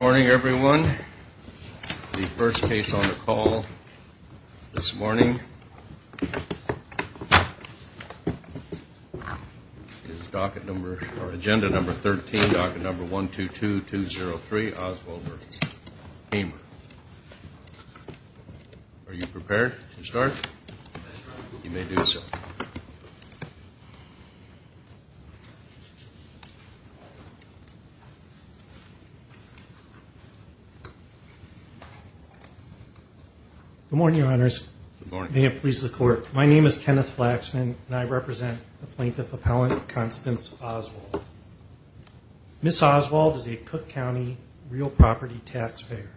Good morning, everyone. The first case on the call this morning is agenda number 13, docket number 122203, Oswald v. Kramer. Are you prepared to start? You may do so. Kenneth Flaxman Good morning, Your Honors. May it please the Court, my name is Kenneth Flaxman and I represent the plaintiff appellant Constance Oswald. Ms. Oswald is a Cook County real property taxpayer.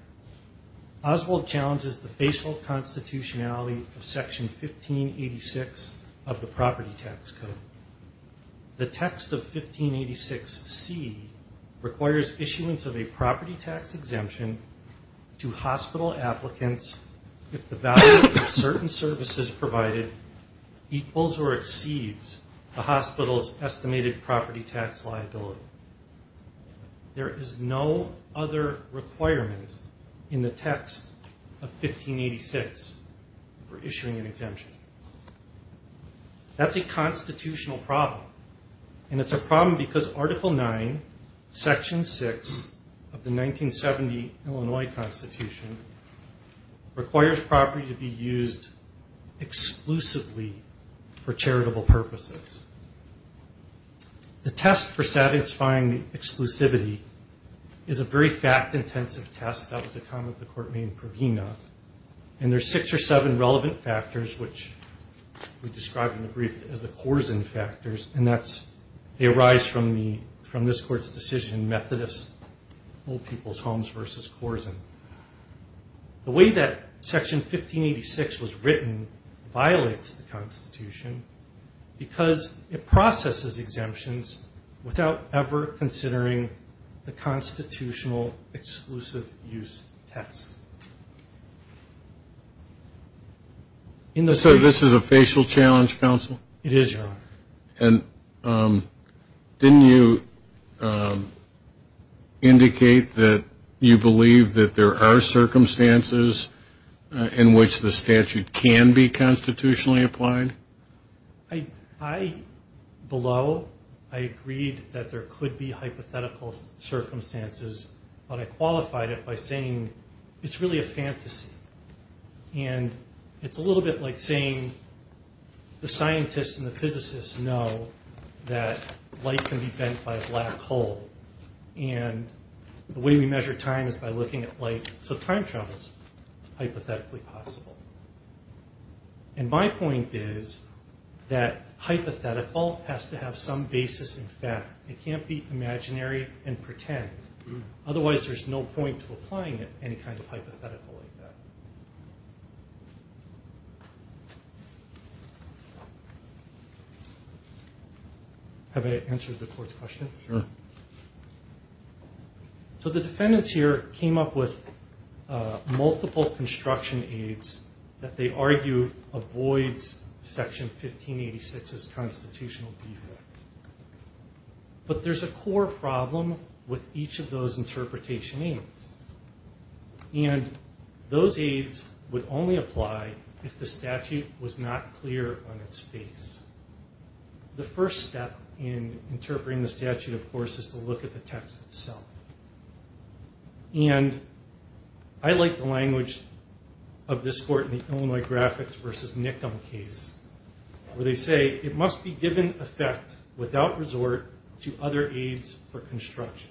Oswald challenges the facial constitutionality of Section 1586 of the Property Tax Code. The text of 1586C requires issuance of a property tax exemption to hospital applicants if the value of certain services provided equals or exceeds the hospital's estimated property tax liability. There is no other requirement in the text of 1586 for issuing an exemption. That's a constitutional problem and it's a problem because Article 9, Section 6 of the 1970 Illinois Constitution requires property to be used exclusively for charitable purposes. The test for satisfying the exclusivity is a very fact-intensive test. That was a comment the Court made in Provena. And there are six or seven relevant factors which we described in the brief as the Korsen factors and they arise from this Court's decision in Methodist Old People's Homes v. Korsen. The way that Section 1586 was written violates the Constitution because it processes exemptions without ever considering the constitutional exclusive use test. So this is a facial challenge, Counsel? It is, Your Honor. And didn't you indicate that you believe that there are circumstances in which the statute can be constitutionally applied? I, below, I agreed that there could be hypothetical circumstances, but I qualified it by saying it's really a fantasy. And it's a little bit like saying the scientists and the physicists know that light can be bent by a black hole. And the way we measure time is by looking at light. So time travel is hypothetically possible. And my point is that hypothetical has to have some basis in fact. It can't be imaginary and pretend. Otherwise there's no point to applying it, any kind of hypothetical like that. Have I answered the Court's question? Sure. So the defendants here came up with multiple construction aides that they argue avoids Section 1586's constitutional defect. But there's a core problem with each of those interpretation aides. And those aides would only apply if the statute was not clear on its face. The first step in interpreting the statute, of course, is to look at the text itself. And I like the language of this Court in the Illinois Graphics v. Nickham case, where they say it must be given effect without resort to other aides for construction.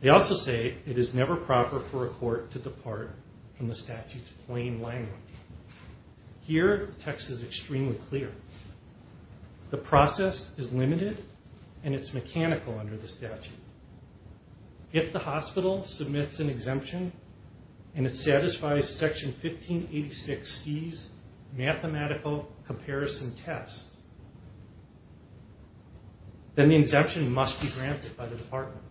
They also say it is never proper for a court to depart from the statute's plain language. Here, the text is extremely clear. The process is limited and it's mechanical under the statute. If the hospital submits an exemption and it satisfies Section 1586C's mathematical comparison test, then the exemption must be granted by the department.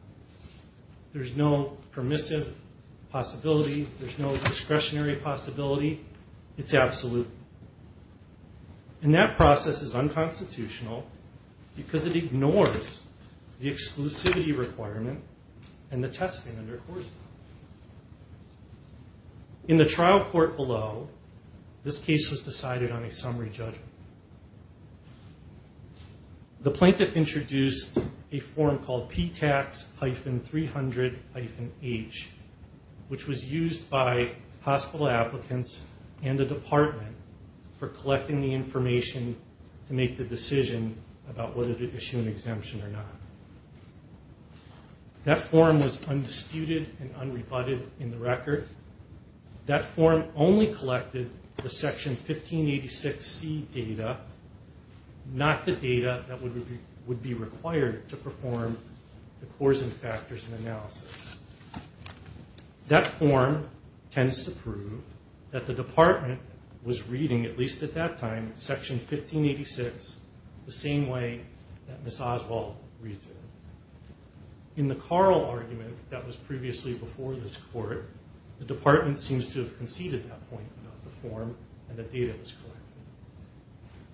There's no permissive possibility. There's no discretionary possibility. It's absolute. And that process is unconstitutional because it ignores the exclusivity requirement and the testament, of course. In the trial court below, this case was decided on a summary judgment. The plaintiff introduced a form called P-Tax-300-H, which was used by hospital applicants and the department for collecting the information to make the decision about whether to issue an exemption or not. That form was undisputed and unrebutted in the record. That form only collected the Section 1586C data, not the data that would be required to perform the coarsen factors analysis. That form tends to prove that the department was reading, at least at that time, Section 1586 the same way that Ms. Oswald reads it. In the Carl argument that was previously before this court, the department seems to have conceded that point about the form and the data that was collected.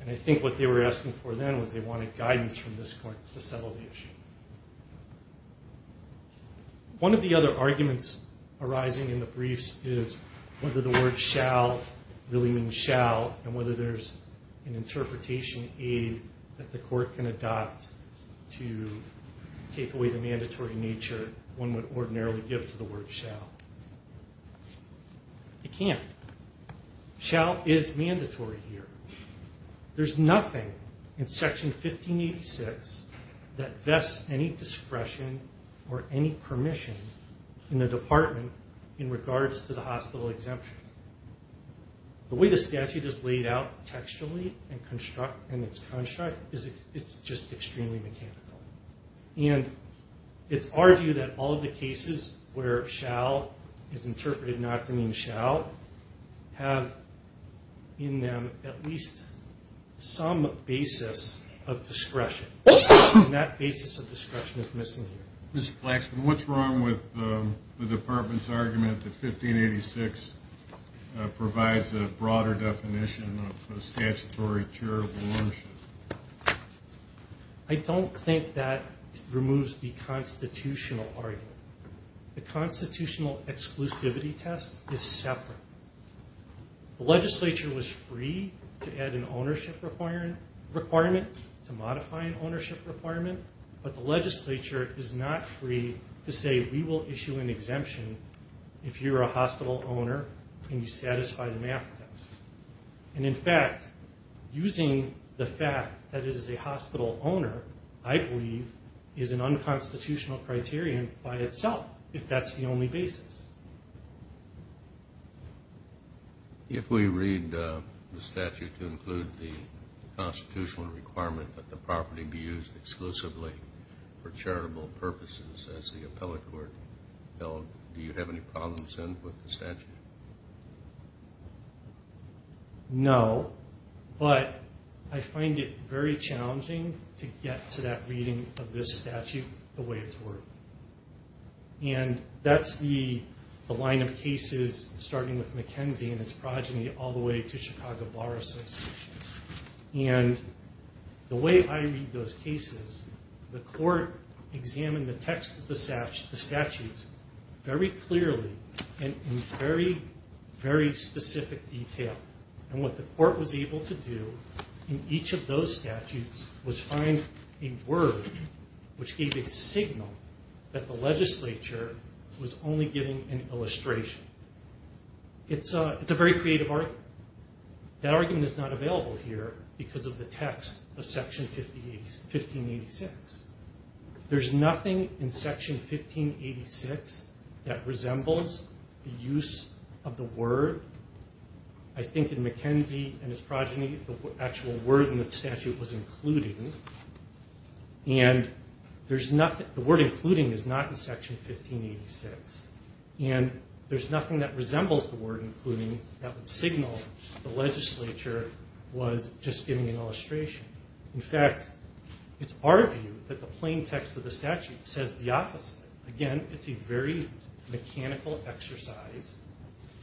And I think what they were asking for then was they wanted guidance from this court to settle the issue. One of the other arguments arising in the briefs is whether the word shall really mean shall and whether there's an interpretation aid that the court can adopt to take away the mandatory nature one would ordinarily give to the word shall. It can't. Shall is mandatory here. There's nothing in Section 1586 that vests any discretion or any permission in the department in regards to the hospital exemption. The way the statute is laid out textually and it's constructed, it's just extremely mechanical. And it's our view that all of the cases where shall is interpreted not to mean shall have in them at least some basis of discretion. And that basis of discretion is missing here. Mr. Flaxman, what's wrong with the department's argument that 1586 provides a broader definition of statutory charitable ownership? I don't think that removes the constitutional argument. The constitutional exclusivity test is separate. The legislature was free to add an ownership requirement, to modify an ownership requirement, but the legislature is not free to say we will issue an exemption if you're a hospital owner and you satisfy the math test. And in fact, using the fact that it is a hospital owner, I believe, is an unconstitutional criterion by itself if that's the only basis. If we read the statute to include the constitutional requirement that the property be used exclusively for charitable purposes, as the appellate court held, do you have any problems then with the statute? No, but I find it very challenging to get to that reading of this statute the way it's worked. And that's the line of cases starting with McKenzie and its progeny all the way to Chicago Bar Association. And the way I read those cases, the court examined the text of the statutes very clearly and in very, very specific detail. And what the court was able to do in each of those statutes was find a word which gave a signal that the legislature was only giving an illustration. It's a very creative argument. That argument is not available here because of the text of Section 1586. There's nothing in Section 1586 that resembles the use of the word. I think in McKenzie and its progeny, the actual word in the statute was included. And the word including is not in Section 1586. And there's nothing that resembles the word including that would signal the legislature was just giving an illustration. In fact, it's our view that the plain text of the statute says the opposite. Again, it's a very mechanical exercise.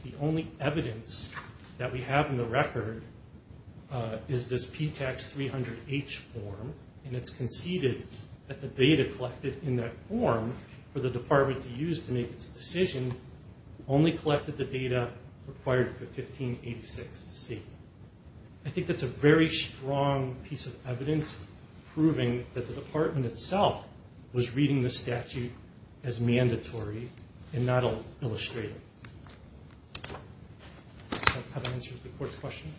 The only evidence that we have in the record is this P-Tax 300-H form. And it's conceded that the data collected in that form for the department to use to make its decision only collected the data required for 1586-C. I think that's a very strong piece of evidence proving that the department itself was reading the statute as mandatory and not illustrative. Does that answer the court's question?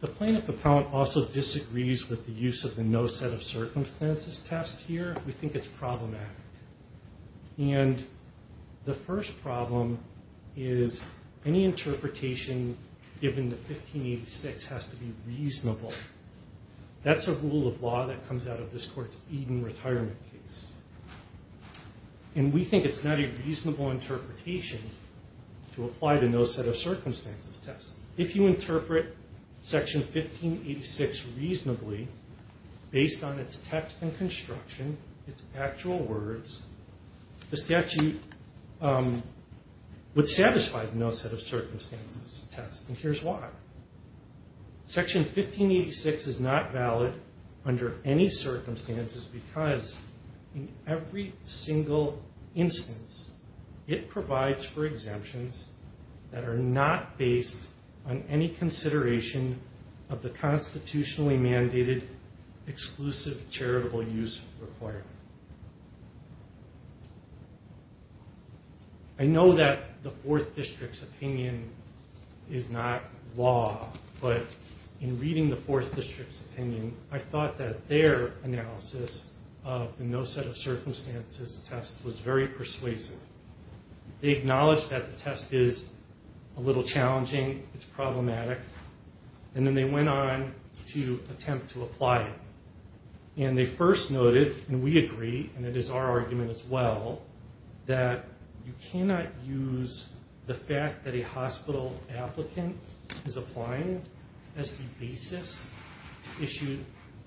The plaintiff appellant also disagrees with the use of the no set of circumstances test here. We think it's problematic. And the first problem is any interpretation given to 1586 has to be reasonable. That's a rule of law that comes out of this court's Eden retirement case. And we think it's not a reasonable interpretation to apply the no set of circumstances test. If you interpret Section 1586 reasonably, based on its text and construction, its actual words, the statute would satisfy the no set of circumstances test. And here's why. Section 1586 is not valid under any circumstances because in every single instance it provides for exemptions that are not based on any consideration of the constitutionally mandated exclusive charitable use requirement. I know that the 4th District's opinion is not law, but in reading the 4th District's opinion, I thought that their analysis of the no set of circumstances test was very persuasive. They acknowledged that the test is a little challenging, it's problematic, and then they went on to attempt to apply it. And they first noted, and we agree, and it is our argument as well, that you cannot use the fact that a hospital applicant is applying as the basis to issue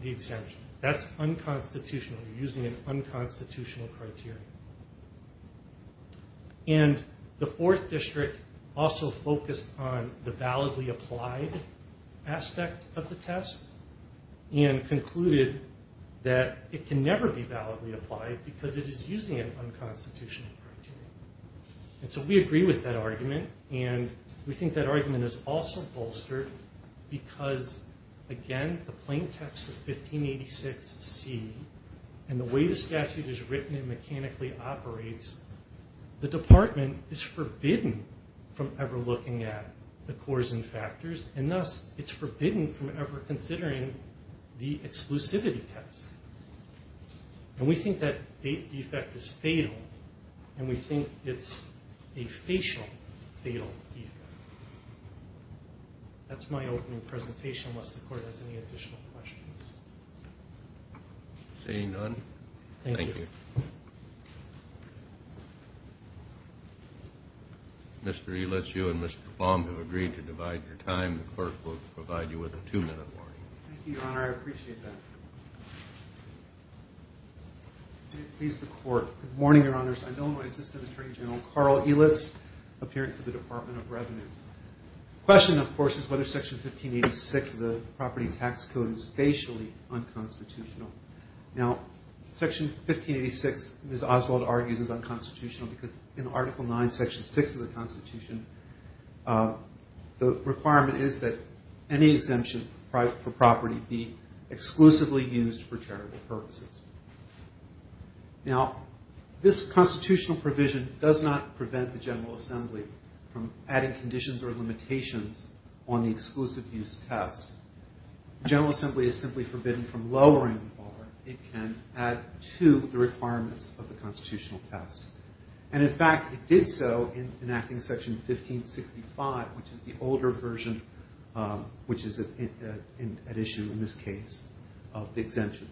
the exemption. That's unconstitutional. You're using an unconstitutional criteria. And the 4th District also focused on the validly applied aspect of the test and concluded that it can never be validly applied because it is using an unconstitutional criteria. And so we agree with that argument and we think that argument is also bolstered because, again, the plain text of 1586C and the way the statute is written and mechanically operates, the department is forbidden from ever looking at the cores and factors and thus it's forbidden from ever considering the exclusivity test. And we think that defect is fatal and we think it's a facial fatal defect. That's my opening presentation unless the court has any additional questions. Seeing none, thank you. Mr. Elicio and Mr. Baum have agreed to divide your time. The clerk will provide you with a two minute warning. Thank you, Your Honor. I appreciate that. Good morning, Your Honors. I'm Illinois Assistant Attorney General Carl Elitz, appearing for the Department of Revenue. The question, of course, is whether Section 1586 of the Property Tax Code is facially unconstitutional. Now, Section 1586, Ms. Oswald argues, is unconstitutional because in Article 9, Section 6 of the Constitution, the requirement is that any exemption for property be exclusively used for charitable purposes. Now, this constitutional provision does not prevent the General Assembly from adding conditions or limitations on the exclusive use test. The General Assembly is simply forbidden from lowering the bar it can add to the requirements of the constitutional test. And, in fact, it did so in enacting Section 1565, which is the older version, which is at issue in this case, of the exemption.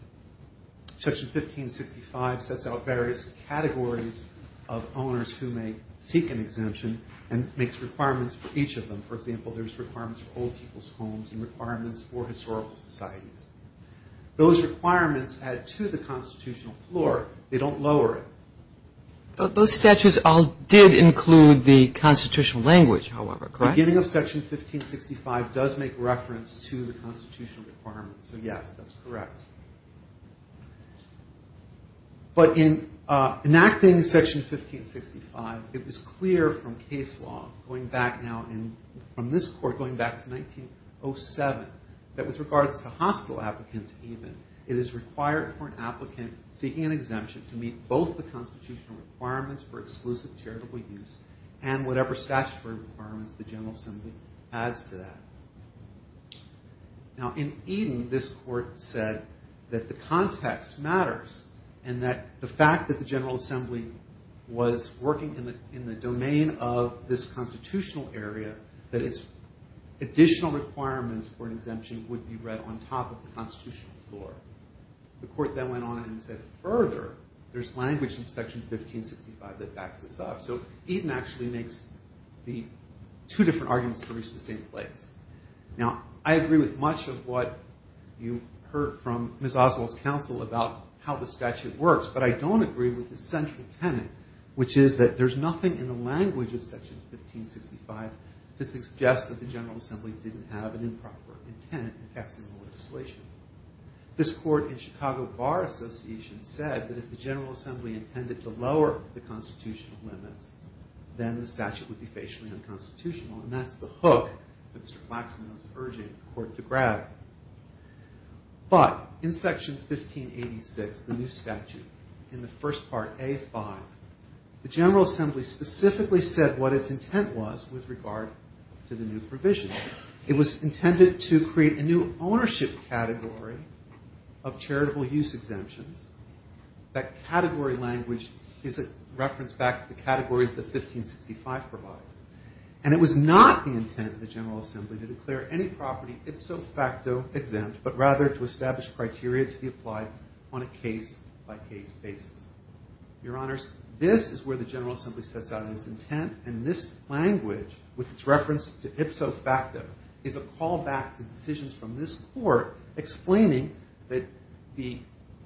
Section 1565 sets out various categories of owners who may seek an exemption and makes requirements for each of them. For example, there's requirements for old people's homes and requirements for historical societies. Those requirements add to the constitutional floor. They don't lower it. Those statutes all did include the constitutional language, however, correct? Beginning of Section 1565 does make reference to the constitutional requirements. So, yes, that's correct. But in enacting Section 1565, it was clear from case law, going back now from this Court, going back to 1907, that with regards to hospital applicants even, it is required for an applicant seeking an exemption to meet both the constitutional requirements for exclusive charitable use and whatever statutory requirements the General Assembly adds to that. Now, in Eden, this Court said that the context matters and that the fact that the General Assembly was working in the domain of this constitutional area, that its additional requirements for an exemption would be read on top of the constitutional floor. But the Court then went on and said, further, there's language in Section 1565 that backs this up. So Eden actually makes the two different arguments to reach the same place. Now, I agree with much of what you heard from Ms. Oswald's counsel about how the statute works, but I don't agree with the central tenet, which is that there's nothing in the language of Section 1565 to suggest that the General Assembly didn't have an improper intent in passing the legislation. This Court in Chicago Bar Association said that if the General Assembly intended to lower the constitutional limits, then the statute would be facially unconstitutional, and that's the hook that Mr. Flaxman is urging the Court to grab. But in Section 1586, the new statute, in the first part, A5, the General Assembly specifically said what its intent was with regard to the new provision. It was intended to create a new ownership category of charitable use exemptions. That category language is a reference back to the categories that 1565 provides. And it was not the intent of the General Assembly to declare any property ipso facto exempt, but rather to establish criteria to be applied on a case-by-case basis. Your Honors, this is where the General Assembly sets out its intent, and this language, with its reference to ipso facto, is a callback to decisions from this Court explaining that the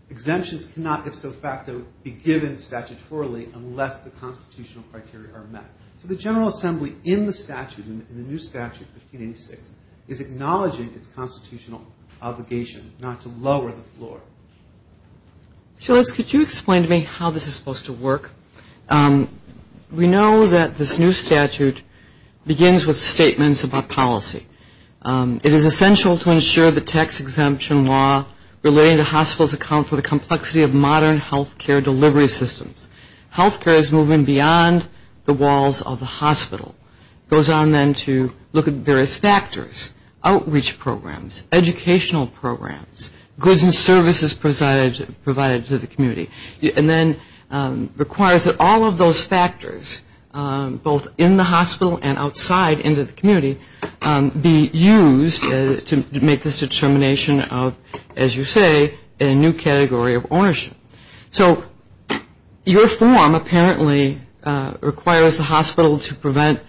exemptions cannot ipso facto be given statutorily unless the constitutional criteria are met. So the General Assembly in the statute, in the new statute, 1586, is acknowledging its constitutional obligation not to lower the floor. So, Liz, could you explain to me how this is supposed to work? We know that this new statute begins with statements about policy. It is essential to ensure the tax exemption law relating to hospitals accounts for the complexity of modern health care delivery systems. Health care is moving beyond the walls of the hospital. It goes on then to look at various factors, outreach programs, educational programs, goods and services provided to the community. And then requires that all of those factors, both in the hospital and outside into the community, be used to make this determination of, as you say, a new category of ownership. So your form apparently requires the hospital to provide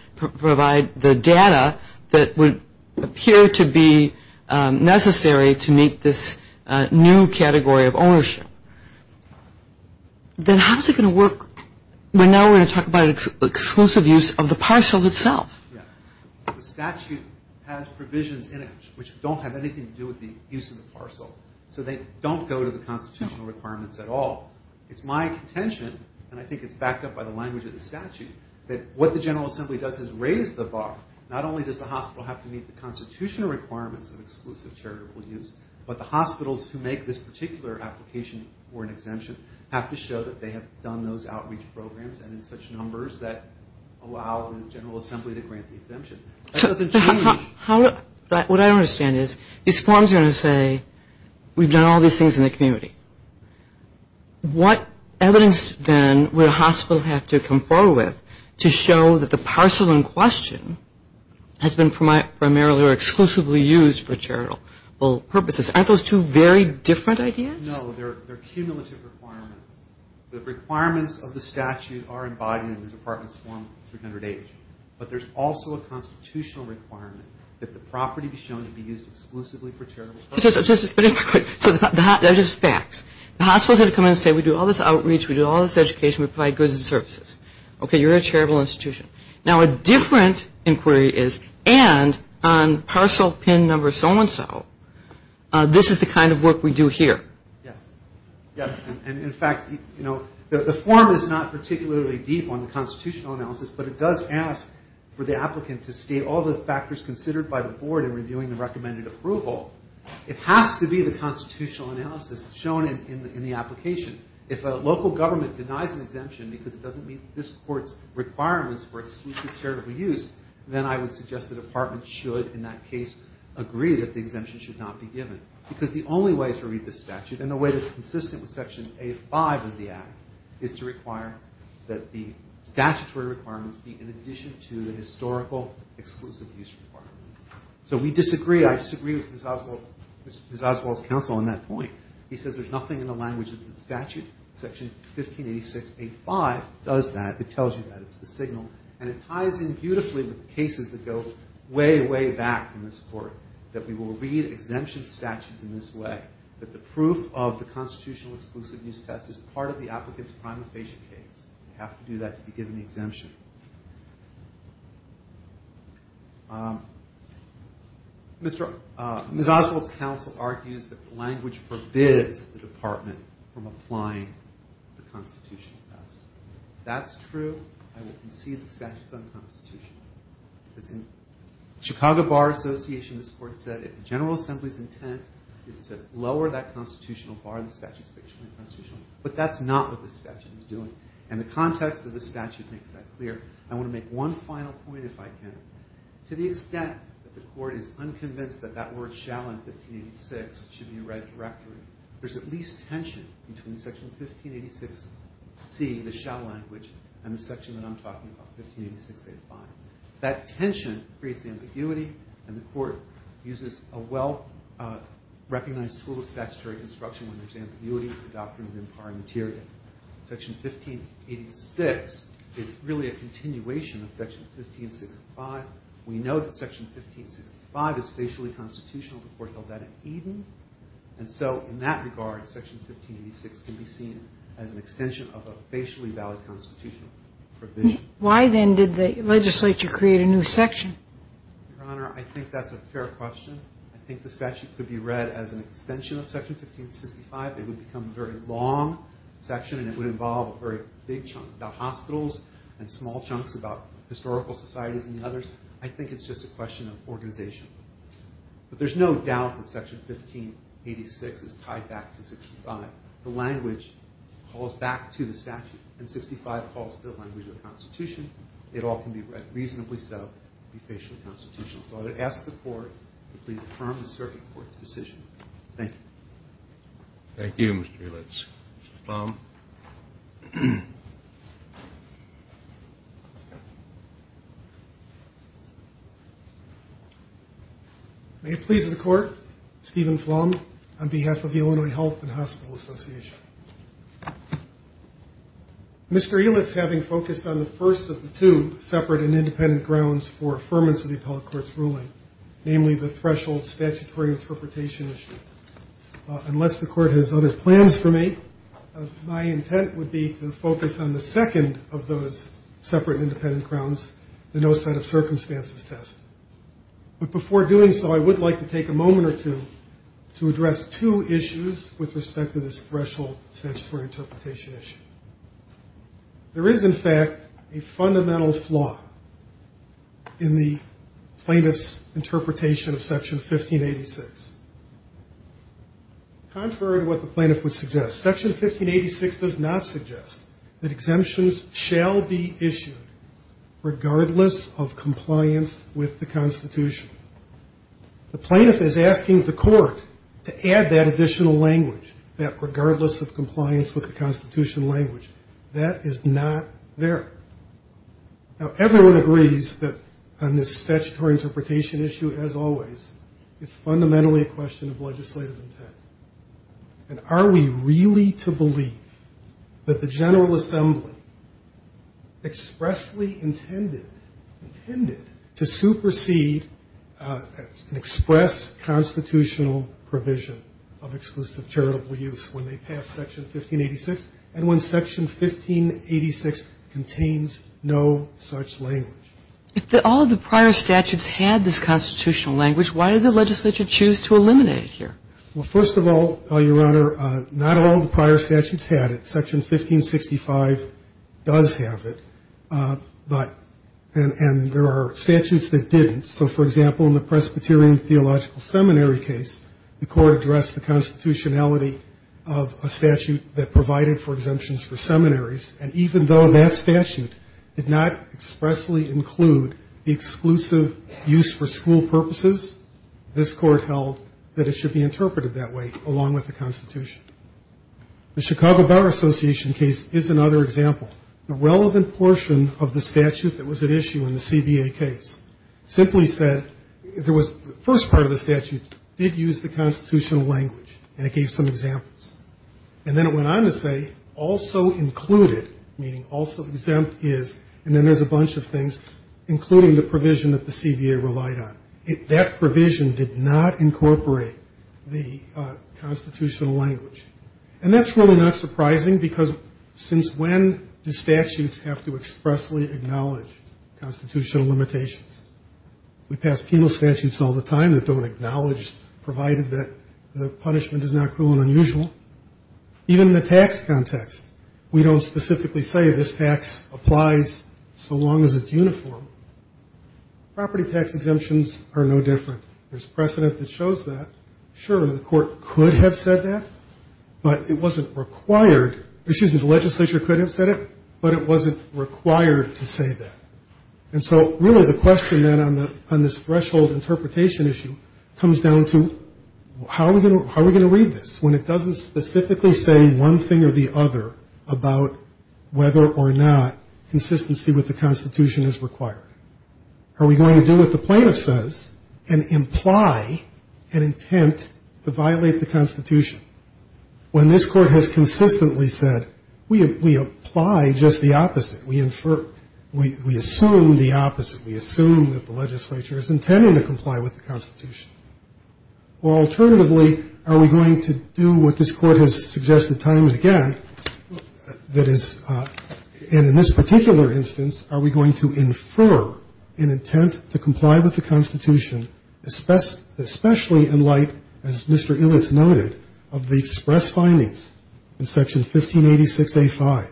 the data that would appear to be necessary to meet this new category of ownership. Then how is it going to work when now we're going to talk about exclusive use of the parcel itself? Yes. The statute has provisions in it which don't have anything to do with the use of the parcel. So they don't go to the constitutional requirements at all. It's my contention, and I think it's backed up by the language of the statute, that what the General Assembly does is raise the bar. Not only does the hospital have to meet the constitutional requirements of exclusive charitable use, but the hospitals who make this particular application for an exemption have to show that they have done those outreach programs and in such numbers that allow the General Assembly to grant the exemption. That doesn't change. What I don't understand is these forms are going to say we've done all these things in the community. What evidence then would a hospital have to confer with to show that the parcel in question has been primarily or exclusively used for charitable purposes? Aren't those two very different ideas? No. They're cumulative requirements. The requirements of the statute are embodied in the Department's Form 300H. But there's also a constitutional requirement that the property be shown to be used exclusively for charitable purposes. Just a minute real quick. So they're just facts. The hospitals have to come in and say we do all this outreach, we do all this education, we provide goods and services. Okay, you're a charitable institution. Now, a different inquiry is, and on parcel pin number so-and-so, this is the kind of work we do here. Yes. And, in fact, the form is not particularly deep on the constitutional analysis, but it does ask for the applicant to state all the factors considered by the Board in reviewing the recommended approval. It has to be the constitutional analysis shown in the application. If a local government denies an exemption because it doesn't meet this Court's requirements for exclusive charitable use, then I would suggest the Department should, in that case, agree that the exemption should not be given. Because the only way to read this statute, and the way that's consistent with Section A5 of the Act, is to require that the statutory requirements be in addition to the historical exclusive use requirements. So we disagree. I disagree with Mr. Oswald's counsel on that point. He says there's nothing in the language of the statute. Section 1586A5 does that. It tells you that. It's the signal. And it ties in beautifully with the cases that go way, way back from this Court, that we will read exemption statutes in this way, that the proof of the constitutional exclusive use test is part of the applicant's prima facie case. You have to do that to be given the exemption. Ms. Oswald's counsel argues that the language forbids the Department from applying the constitutional test. If that's true, I would concede the statute's unconstitutional. Because in Chicago Bar Association, this Court said, if the General Assembly's intent is to lower that constitutional bar, the statute's fictionally constitutional. But that's not what this statute is doing. And the context of this statute makes that clear. I want to make one final point, if I can. To the extent that the Court is unconvinced that that word shall in 1586 should be a right of directory, there's at least tension between Section 1586C, the shall language, and the section that I'm talking about, 1586A-5. That tension creates ambiguity, and the Court uses a well-recognized tool of statutory construction when there's ambiguity in the doctrine of impar materia. Section 1586 is really a continuation of Section 1565. We know that Section 1565 is facially constitutional. The Court held that in Eden. And so in that regard, Section 1586 can be seen as an extension of a facially valid constitutional provision. Why, then, did the legislature create a new section? Your Honor, I think that's a fair question. I think the statute could be read as an extension of Section 1565. It would become a very long section, and it would involve a very big chunk about hospitals and small chunks about historical societies and others. I think it's just a question of organization. But there's no doubt that Section 1586 is tied back to Section 1565. The language calls back to the statute, and Section 1565 calls to the language of the Constitution. It all can be read reasonably so to be facially constitutional. So I would ask the Court to please affirm the Circuit Court's decision. Thank you. Thank you, Mr. Helitz. Mr. Baum. May it please the Court, Stephen Flom, on behalf of the Illinois Health and Hospital Association. Mr. Helitz, having focused on the first of the two separate and independent grounds for affirmance of the appellate court's ruling, namely the threshold statutory interpretation issue, unless the Court has other plans for me, my intent would be to focus on the second of those separate and independent grounds, the no set of circumstances test. But before doing so, I would like to take a moment or two to address two issues with respect to this threshold statutory interpretation issue. There is, in fact, a fundamental flaw in the plaintiff's interpretation of Section 1586. Contrary to what the plaintiff would suggest, Section 1586 does not suggest that exemptions shall be issued regardless of compliance with the Constitution. The plaintiff is asking the Court to add that additional language, that regardless of compliance with the Constitution language. That is not there. Now, everyone agrees that on this statutory interpretation issue, as always, it's fundamentally a question of legislative intent. And are we really to believe that the General Assembly expressly intended, intended to supersede an express constitutional provision of exclusive charitable use when they pass Section 1586 and when Section 1586 contains no such language? If all the prior statutes had this constitutional language, why did the legislature choose to eliminate it here? Well, first of all, Your Honor, not all the prior statutes had it. Section 1565 does have it. And there are statutes that didn't. So, for example, in the Presbyterian Theological Seminary case, the Court addressed the constitutionality of a statute that provided for exemptions for seminaries. And even though that statute did not expressly include the exclusive use for school purposes, this Court held that it should be interpreted that way, along with the Constitution. The Chicago Bar Association case is another example. The relevant portion of the statute that was at issue in the CBA case simply said there was the first part of the statute did use the constitutional language, and it gave some examples. And then it went on to say also included, meaning also exempt is, and then there's a bunch of things, including the provision that the CBA relied on, that provision did not incorporate the constitutional language. And that's really not surprising because since when do statutes have to expressly acknowledge constitutional limitations? We pass penal statutes all the time that don't acknowledge, provided that the punishment is not cruel and unusual. Even in the tax context, we don't specifically say this tax applies so long as it's uniform. Property tax exemptions are no different. There's precedent that shows that. Sure, the Court could have said that, but it wasn't required. Excuse me, the legislature could have said it, but it wasn't required to say that. And so really the question then on this threshold interpretation issue comes down to how are we going to read this when it doesn't specifically say one thing or the Are we going to do what the plaintiff says and imply an intent to violate the Constitution? When this Court has consistently said we apply just the opposite, we infer, we assume the opposite, we assume that the legislature is intending to comply with the Constitution. Or alternatively, are we going to do what this Court has suggested time and again, that is, and in this particular instance, are we going to infer an intent to comply with the Constitution, especially in light, as Mr. Illiots noted, of the express findings in Section 1586A5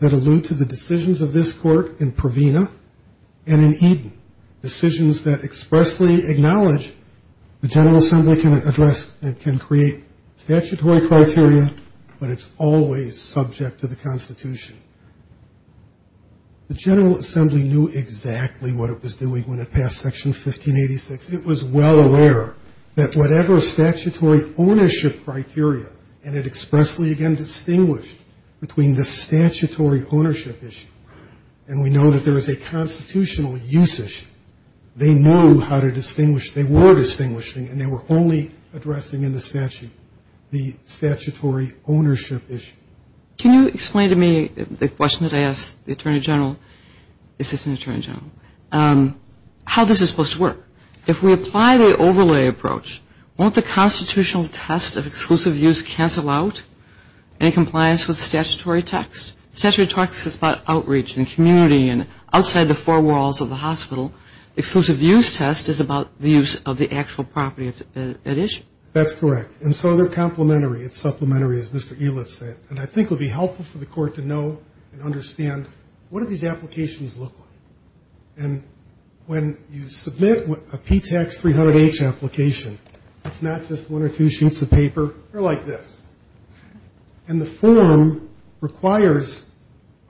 that allude to the decisions of this Court in Provena and in Eden, decisions that expressly acknowledge the General Assembly can address and can always subject to the Constitution. The General Assembly knew exactly what it was doing when it passed Section 1586. It was well aware that whatever statutory ownership criteria, and it expressly again distinguished between the statutory ownership issue, and we know that there is a constitutional use issue, they knew how to distinguish, they were distinguishing, and they were wholly addressing in the statute the statutory ownership issue. Can you explain to me the question that I asked the Attorney General, Assistant Attorney General, how this is supposed to work? If we apply the overlay approach, won't the constitutional test of exclusive use cancel out any compliance with statutory text? Statutory text is about outreach and community and outside the four walls of the hospital. Exclusive use test is about the use of the actual property at issue. That's correct. And so they're complementary. It's supplementary, as Mr. Elett said. And I think it would be helpful for the Court to know and understand, what do these applications look like? And when you submit a PTACS 300H application, it's not just one or two sheets of paper. They're like this. And the form requires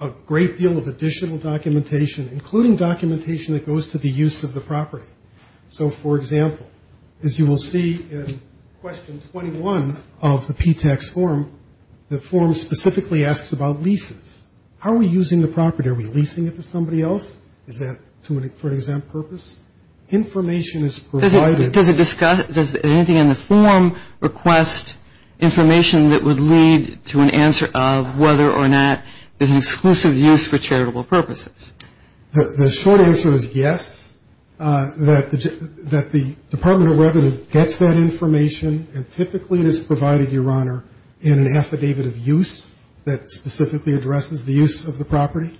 a great deal of additional documentation, including documentation that goes to the use of the property. So, for example, as you will see in question 21 of the PTACS form, the form specifically asks about leases. How are we using the property? Are we leasing it to somebody else? Is that for an exempt purpose? Information is provided. Does it discuss, does anything in the form request information that would lead to an answer of whether or not there's an exclusive use for charitable purposes? The short answer is yes, that the Department of Revenue gets that information and typically it is provided, Your Honor, in an affidavit of use that specifically addresses the use of the property.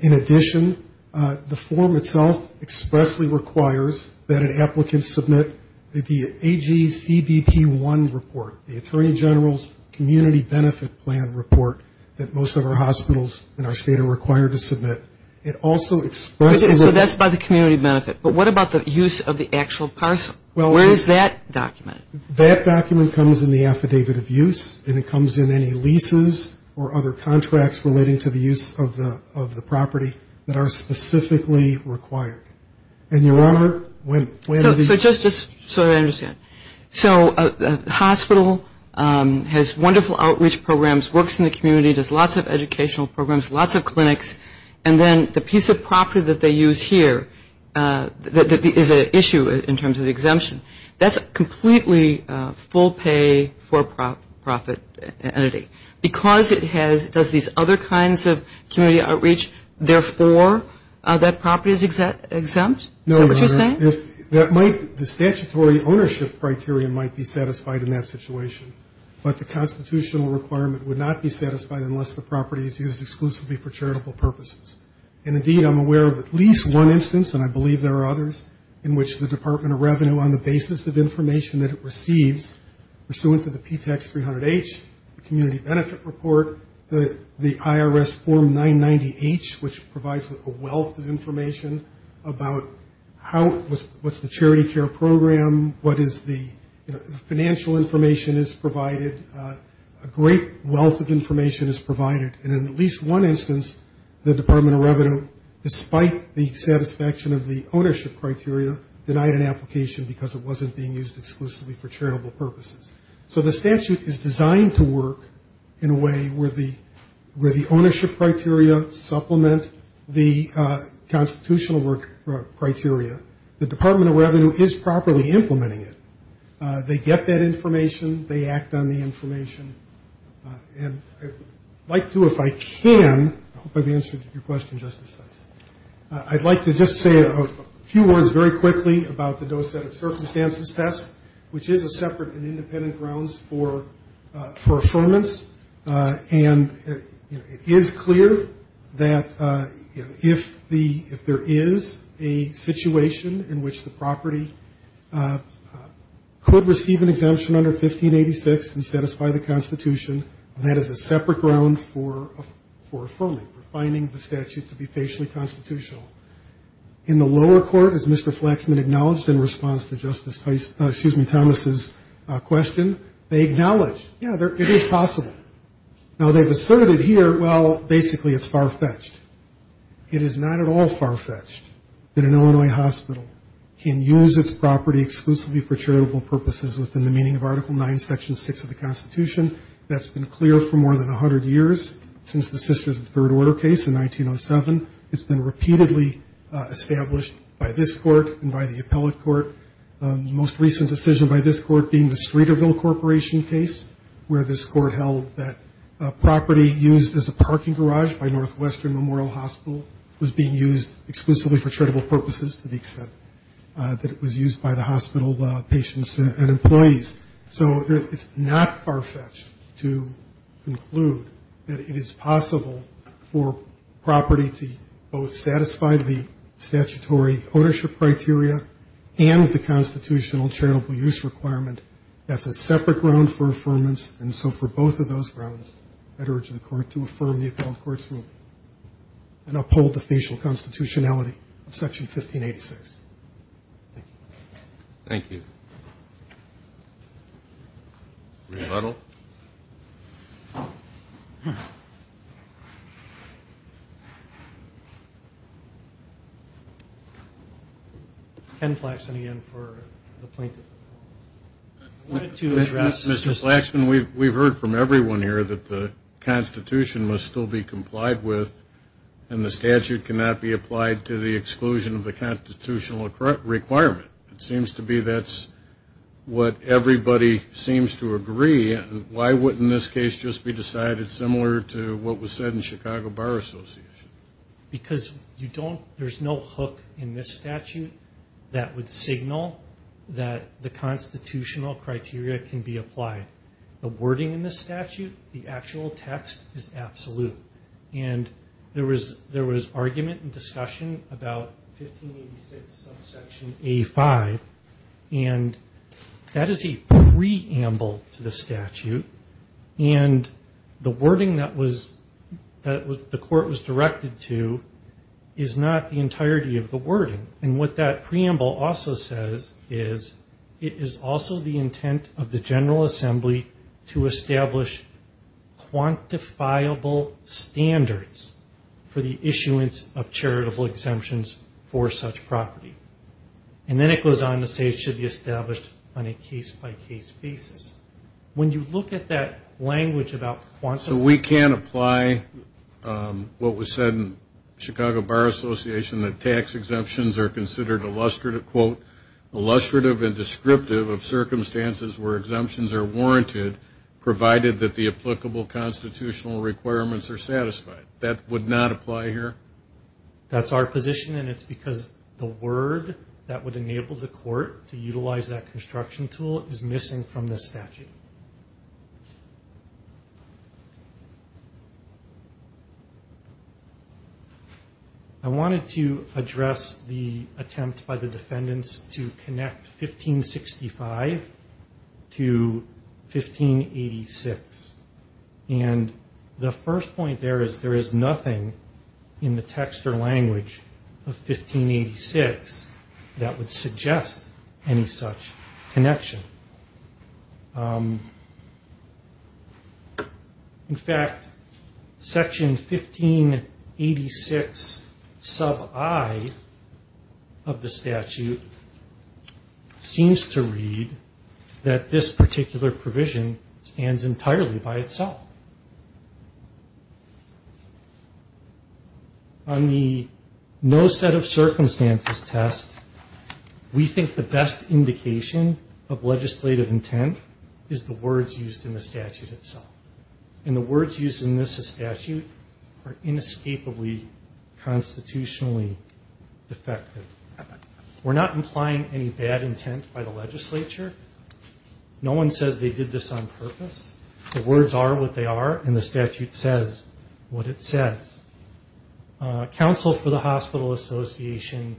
In addition, the form itself expressly requires that an applicant submit the AGCBP-1 report, the Attorney General's Community Benefit Plan report that most of our hospitals in our state are required to submit. It also expresses that. Okay, so that's by the community benefit. But what about the use of the actual parcel? Where is that document? That document comes in the affidavit of use and it comes in any leases or other contracts relating to the use of the property that are specifically required. And, Your Honor, when the... So just so I understand. So a hospital has wonderful outreach programs, works in the community, does lots of educational programs, lots of clinics, and then the piece of property that they use here is an issue in terms of the exemption. That's a completely full-pay, for-profit entity. Because it does these other kinds of community outreach, therefore that property is exempt? Is that what you're saying? No, Your Honor. The statutory ownership criteria might be satisfied in that situation, but the constitutional requirement would not be satisfied unless the property is used exclusively for charitable purposes. And, indeed, I'm aware of at least one instance, and I believe there are others, in which the Department of Revenue, on the basis of information that it receives, pursuant to the PTEX 300-H, the Community Benefit Report, the IRS Form 990-H, which provides a wealth of information about what's the charity care program, what is the financial information is provided. A great wealth of information is provided. And in at least one instance, the Department of Revenue, despite the satisfaction of the ownership criteria, denied an application because it wasn't being used exclusively for charitable purposes. So the statute is designed to work in a way where the ownership criteria supplement the constitutional work criteria. The Department of Revenue is properly implementing it. They get that information. They act on the information. And I'd like to, if I can, I hope I've answered your question, Justice Fentz. I'd like to just say a few words very quickly about the dose-set-of-circumstances test, which is a separate and independent grounds for affirmance. And it is clear that if there is a situation in which the property could receive an exemption under 1586 and satisfy the Constitution, that is a separate ground for affirming, for finding the statute to be facially constitutional. In the lower court, as Mr. Flaxman acknowledged in response to Justice Thomas' question, they acknowledge, yeah, it is possible. Now, they've asserted here, well, basically it's far-fetched. It is not at all far-fetched that an Illinois hospital can use its property exclusively for charitable purposes within the meaning of Article IX, Section 6 of the Constitution. That's been clear for more than 100 years since the Sisters of the Third Order case in 1907. It's been repeatedly established by this court and by the appellate court. The most recent decision by this court being the Streeterville Corporation case, where this court held that property used as a parking garage by Northwestern Memorial Hospital was being used exclusively for charitable purposes, to the extent that it was used by the hospital patients and employees. So it's not far-fetched to conclude that it is possible for property to both satisfy the statutory ownership criteria and the constitutional charitable use requirement. That's a separate ground for affirmance. And so for both of those grounds, I'd urge the court to affirm the appellate court's ruling and uphold the facial constitutionality of Section 1586. Thank you. Thank you. Commissioner Little. Ken Flaxman again for the plaintiff. I wanted to address Mr. Flaxman. We've heard from everyone here that the Constitution must still be complied with and the statute cannot be applied to the exclusion of the constitutional requirement. It seems to be that's what everybody seems to agree. Why wouldn't this case just be decided similar to what was said in Chicago Bar Association? Because there's no hook in this statute that would signal that the constitutional criteria can be applied. The wording in this statute, the actual text, is absolute. And there was argument and discussion about 1586 subsection A5, and that is a preamble to the statute. And the wording that the court was directed to is not the entirety of the wording. And what that preamble also says is it is also the intent of the General Assembly to establish quantifiable standards for the issuance of charitable exemptions for such property. And then it goes on to say it should be established on a case-by-case basis. When you look at that language about quantifiable standards. So we can't apply what was said in Chicago Bar Association, that tax exemptions are considered, quote, illustrative and descriptive of circumstances where exemptions are warranted, provided that the applicable constitutional requirements are satisfied. That would not apply here? That's our position, and it's because the word that would enable the court to utilize that construction tool is missing from this statute. I wanted to address the attempt by the defendants to connect 1565 to 1586. And the first point there is there is nothing in the text or language of 1586 that would suggest any such connection. In fact, Section 1586 sub I of the statute seems to read that this particular provision stands entirely by itself. On the no set of circumstances test, we think the best indication of legislative intent is the words used in the statute itself. And the words used in this statute are inescapably constitutionally defective. We're not implying any bad intent by the legislature. No one says they did this on purpose. The words are what they are, and the statute says what it says. Council for the Hospital Association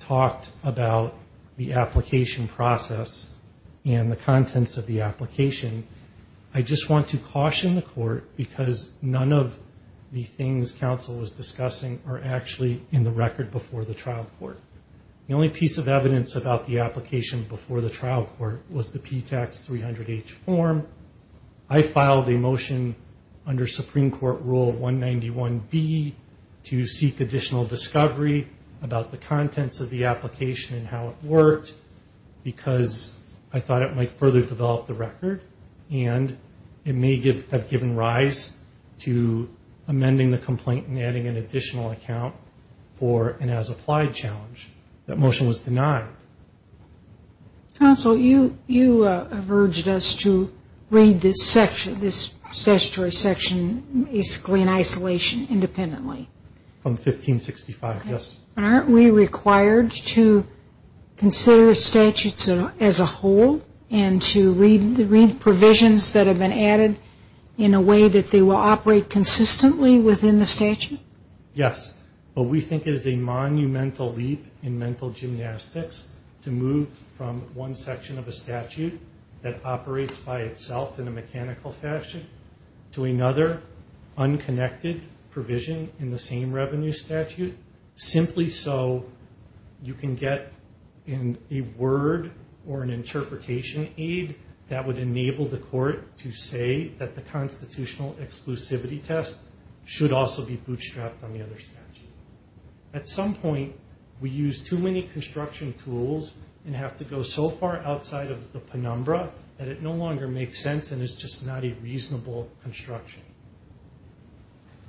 talked about the application process and the contents of the application. I just want to caution the court because none of the things council is discussing are actually in the record before the trial court. The only piece of evidence about the application before the trial court was the PTAC 300H form. I filed a motion under Supreme Court Rule 191B to seek additional discovery about the contents of the application and how it worked. Because I thought it might further develop the record. And it may have given rise to amending the complaint and adding an additional account for an as-applied challenge. That motion was denied. Counsel, you have urged us to read this section, this statutory section, basically in isolation independently. From 1565, yes. Aren't we required to consider statutes as a whole and to read provisions that have been added in a way that they will operate consistently within the statute? Yes. But we think it is a monumental leap in mental gymnastics to move from one section of a statute that operates by itself in a mechanical fashion to another unconnected provision in the same revenue statute. Simply so you can get a word or an interpretation aid that would enable the court to say that the constitutional exclusivity test should also be bootstrapped on the other statute. At some point, we use too many construction tools and have to go so far outside of the penumbra that it no longer makes sense and is just not a reasonable construction.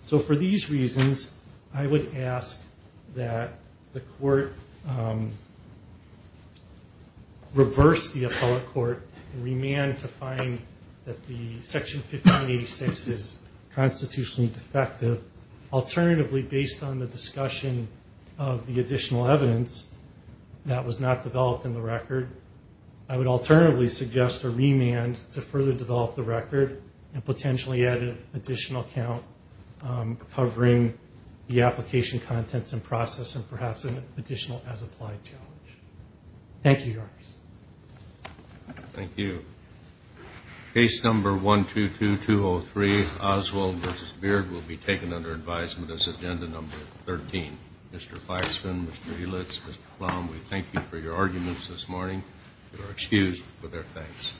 So for these reasons, I would ask that the court reverse the appellate court and remand to find that the Section 1586 is constitutionally defective. Alternatively, based on the discussion of the additional evidence that was not developed in the record, I would alternatively suggest a remand to further develop the record and potentially add an additional account covering the application contents and process and perhaps an additional as-applied challenge. Thank you, Your Honors. Thank you. Case number 122203, Oswald v. Beard, will be taken under advisement as agenda number 13. Mr. Firespin, Mr. Helitz, Mr. Plowman, we thank you for your arguments this morning. You are excused for their facts.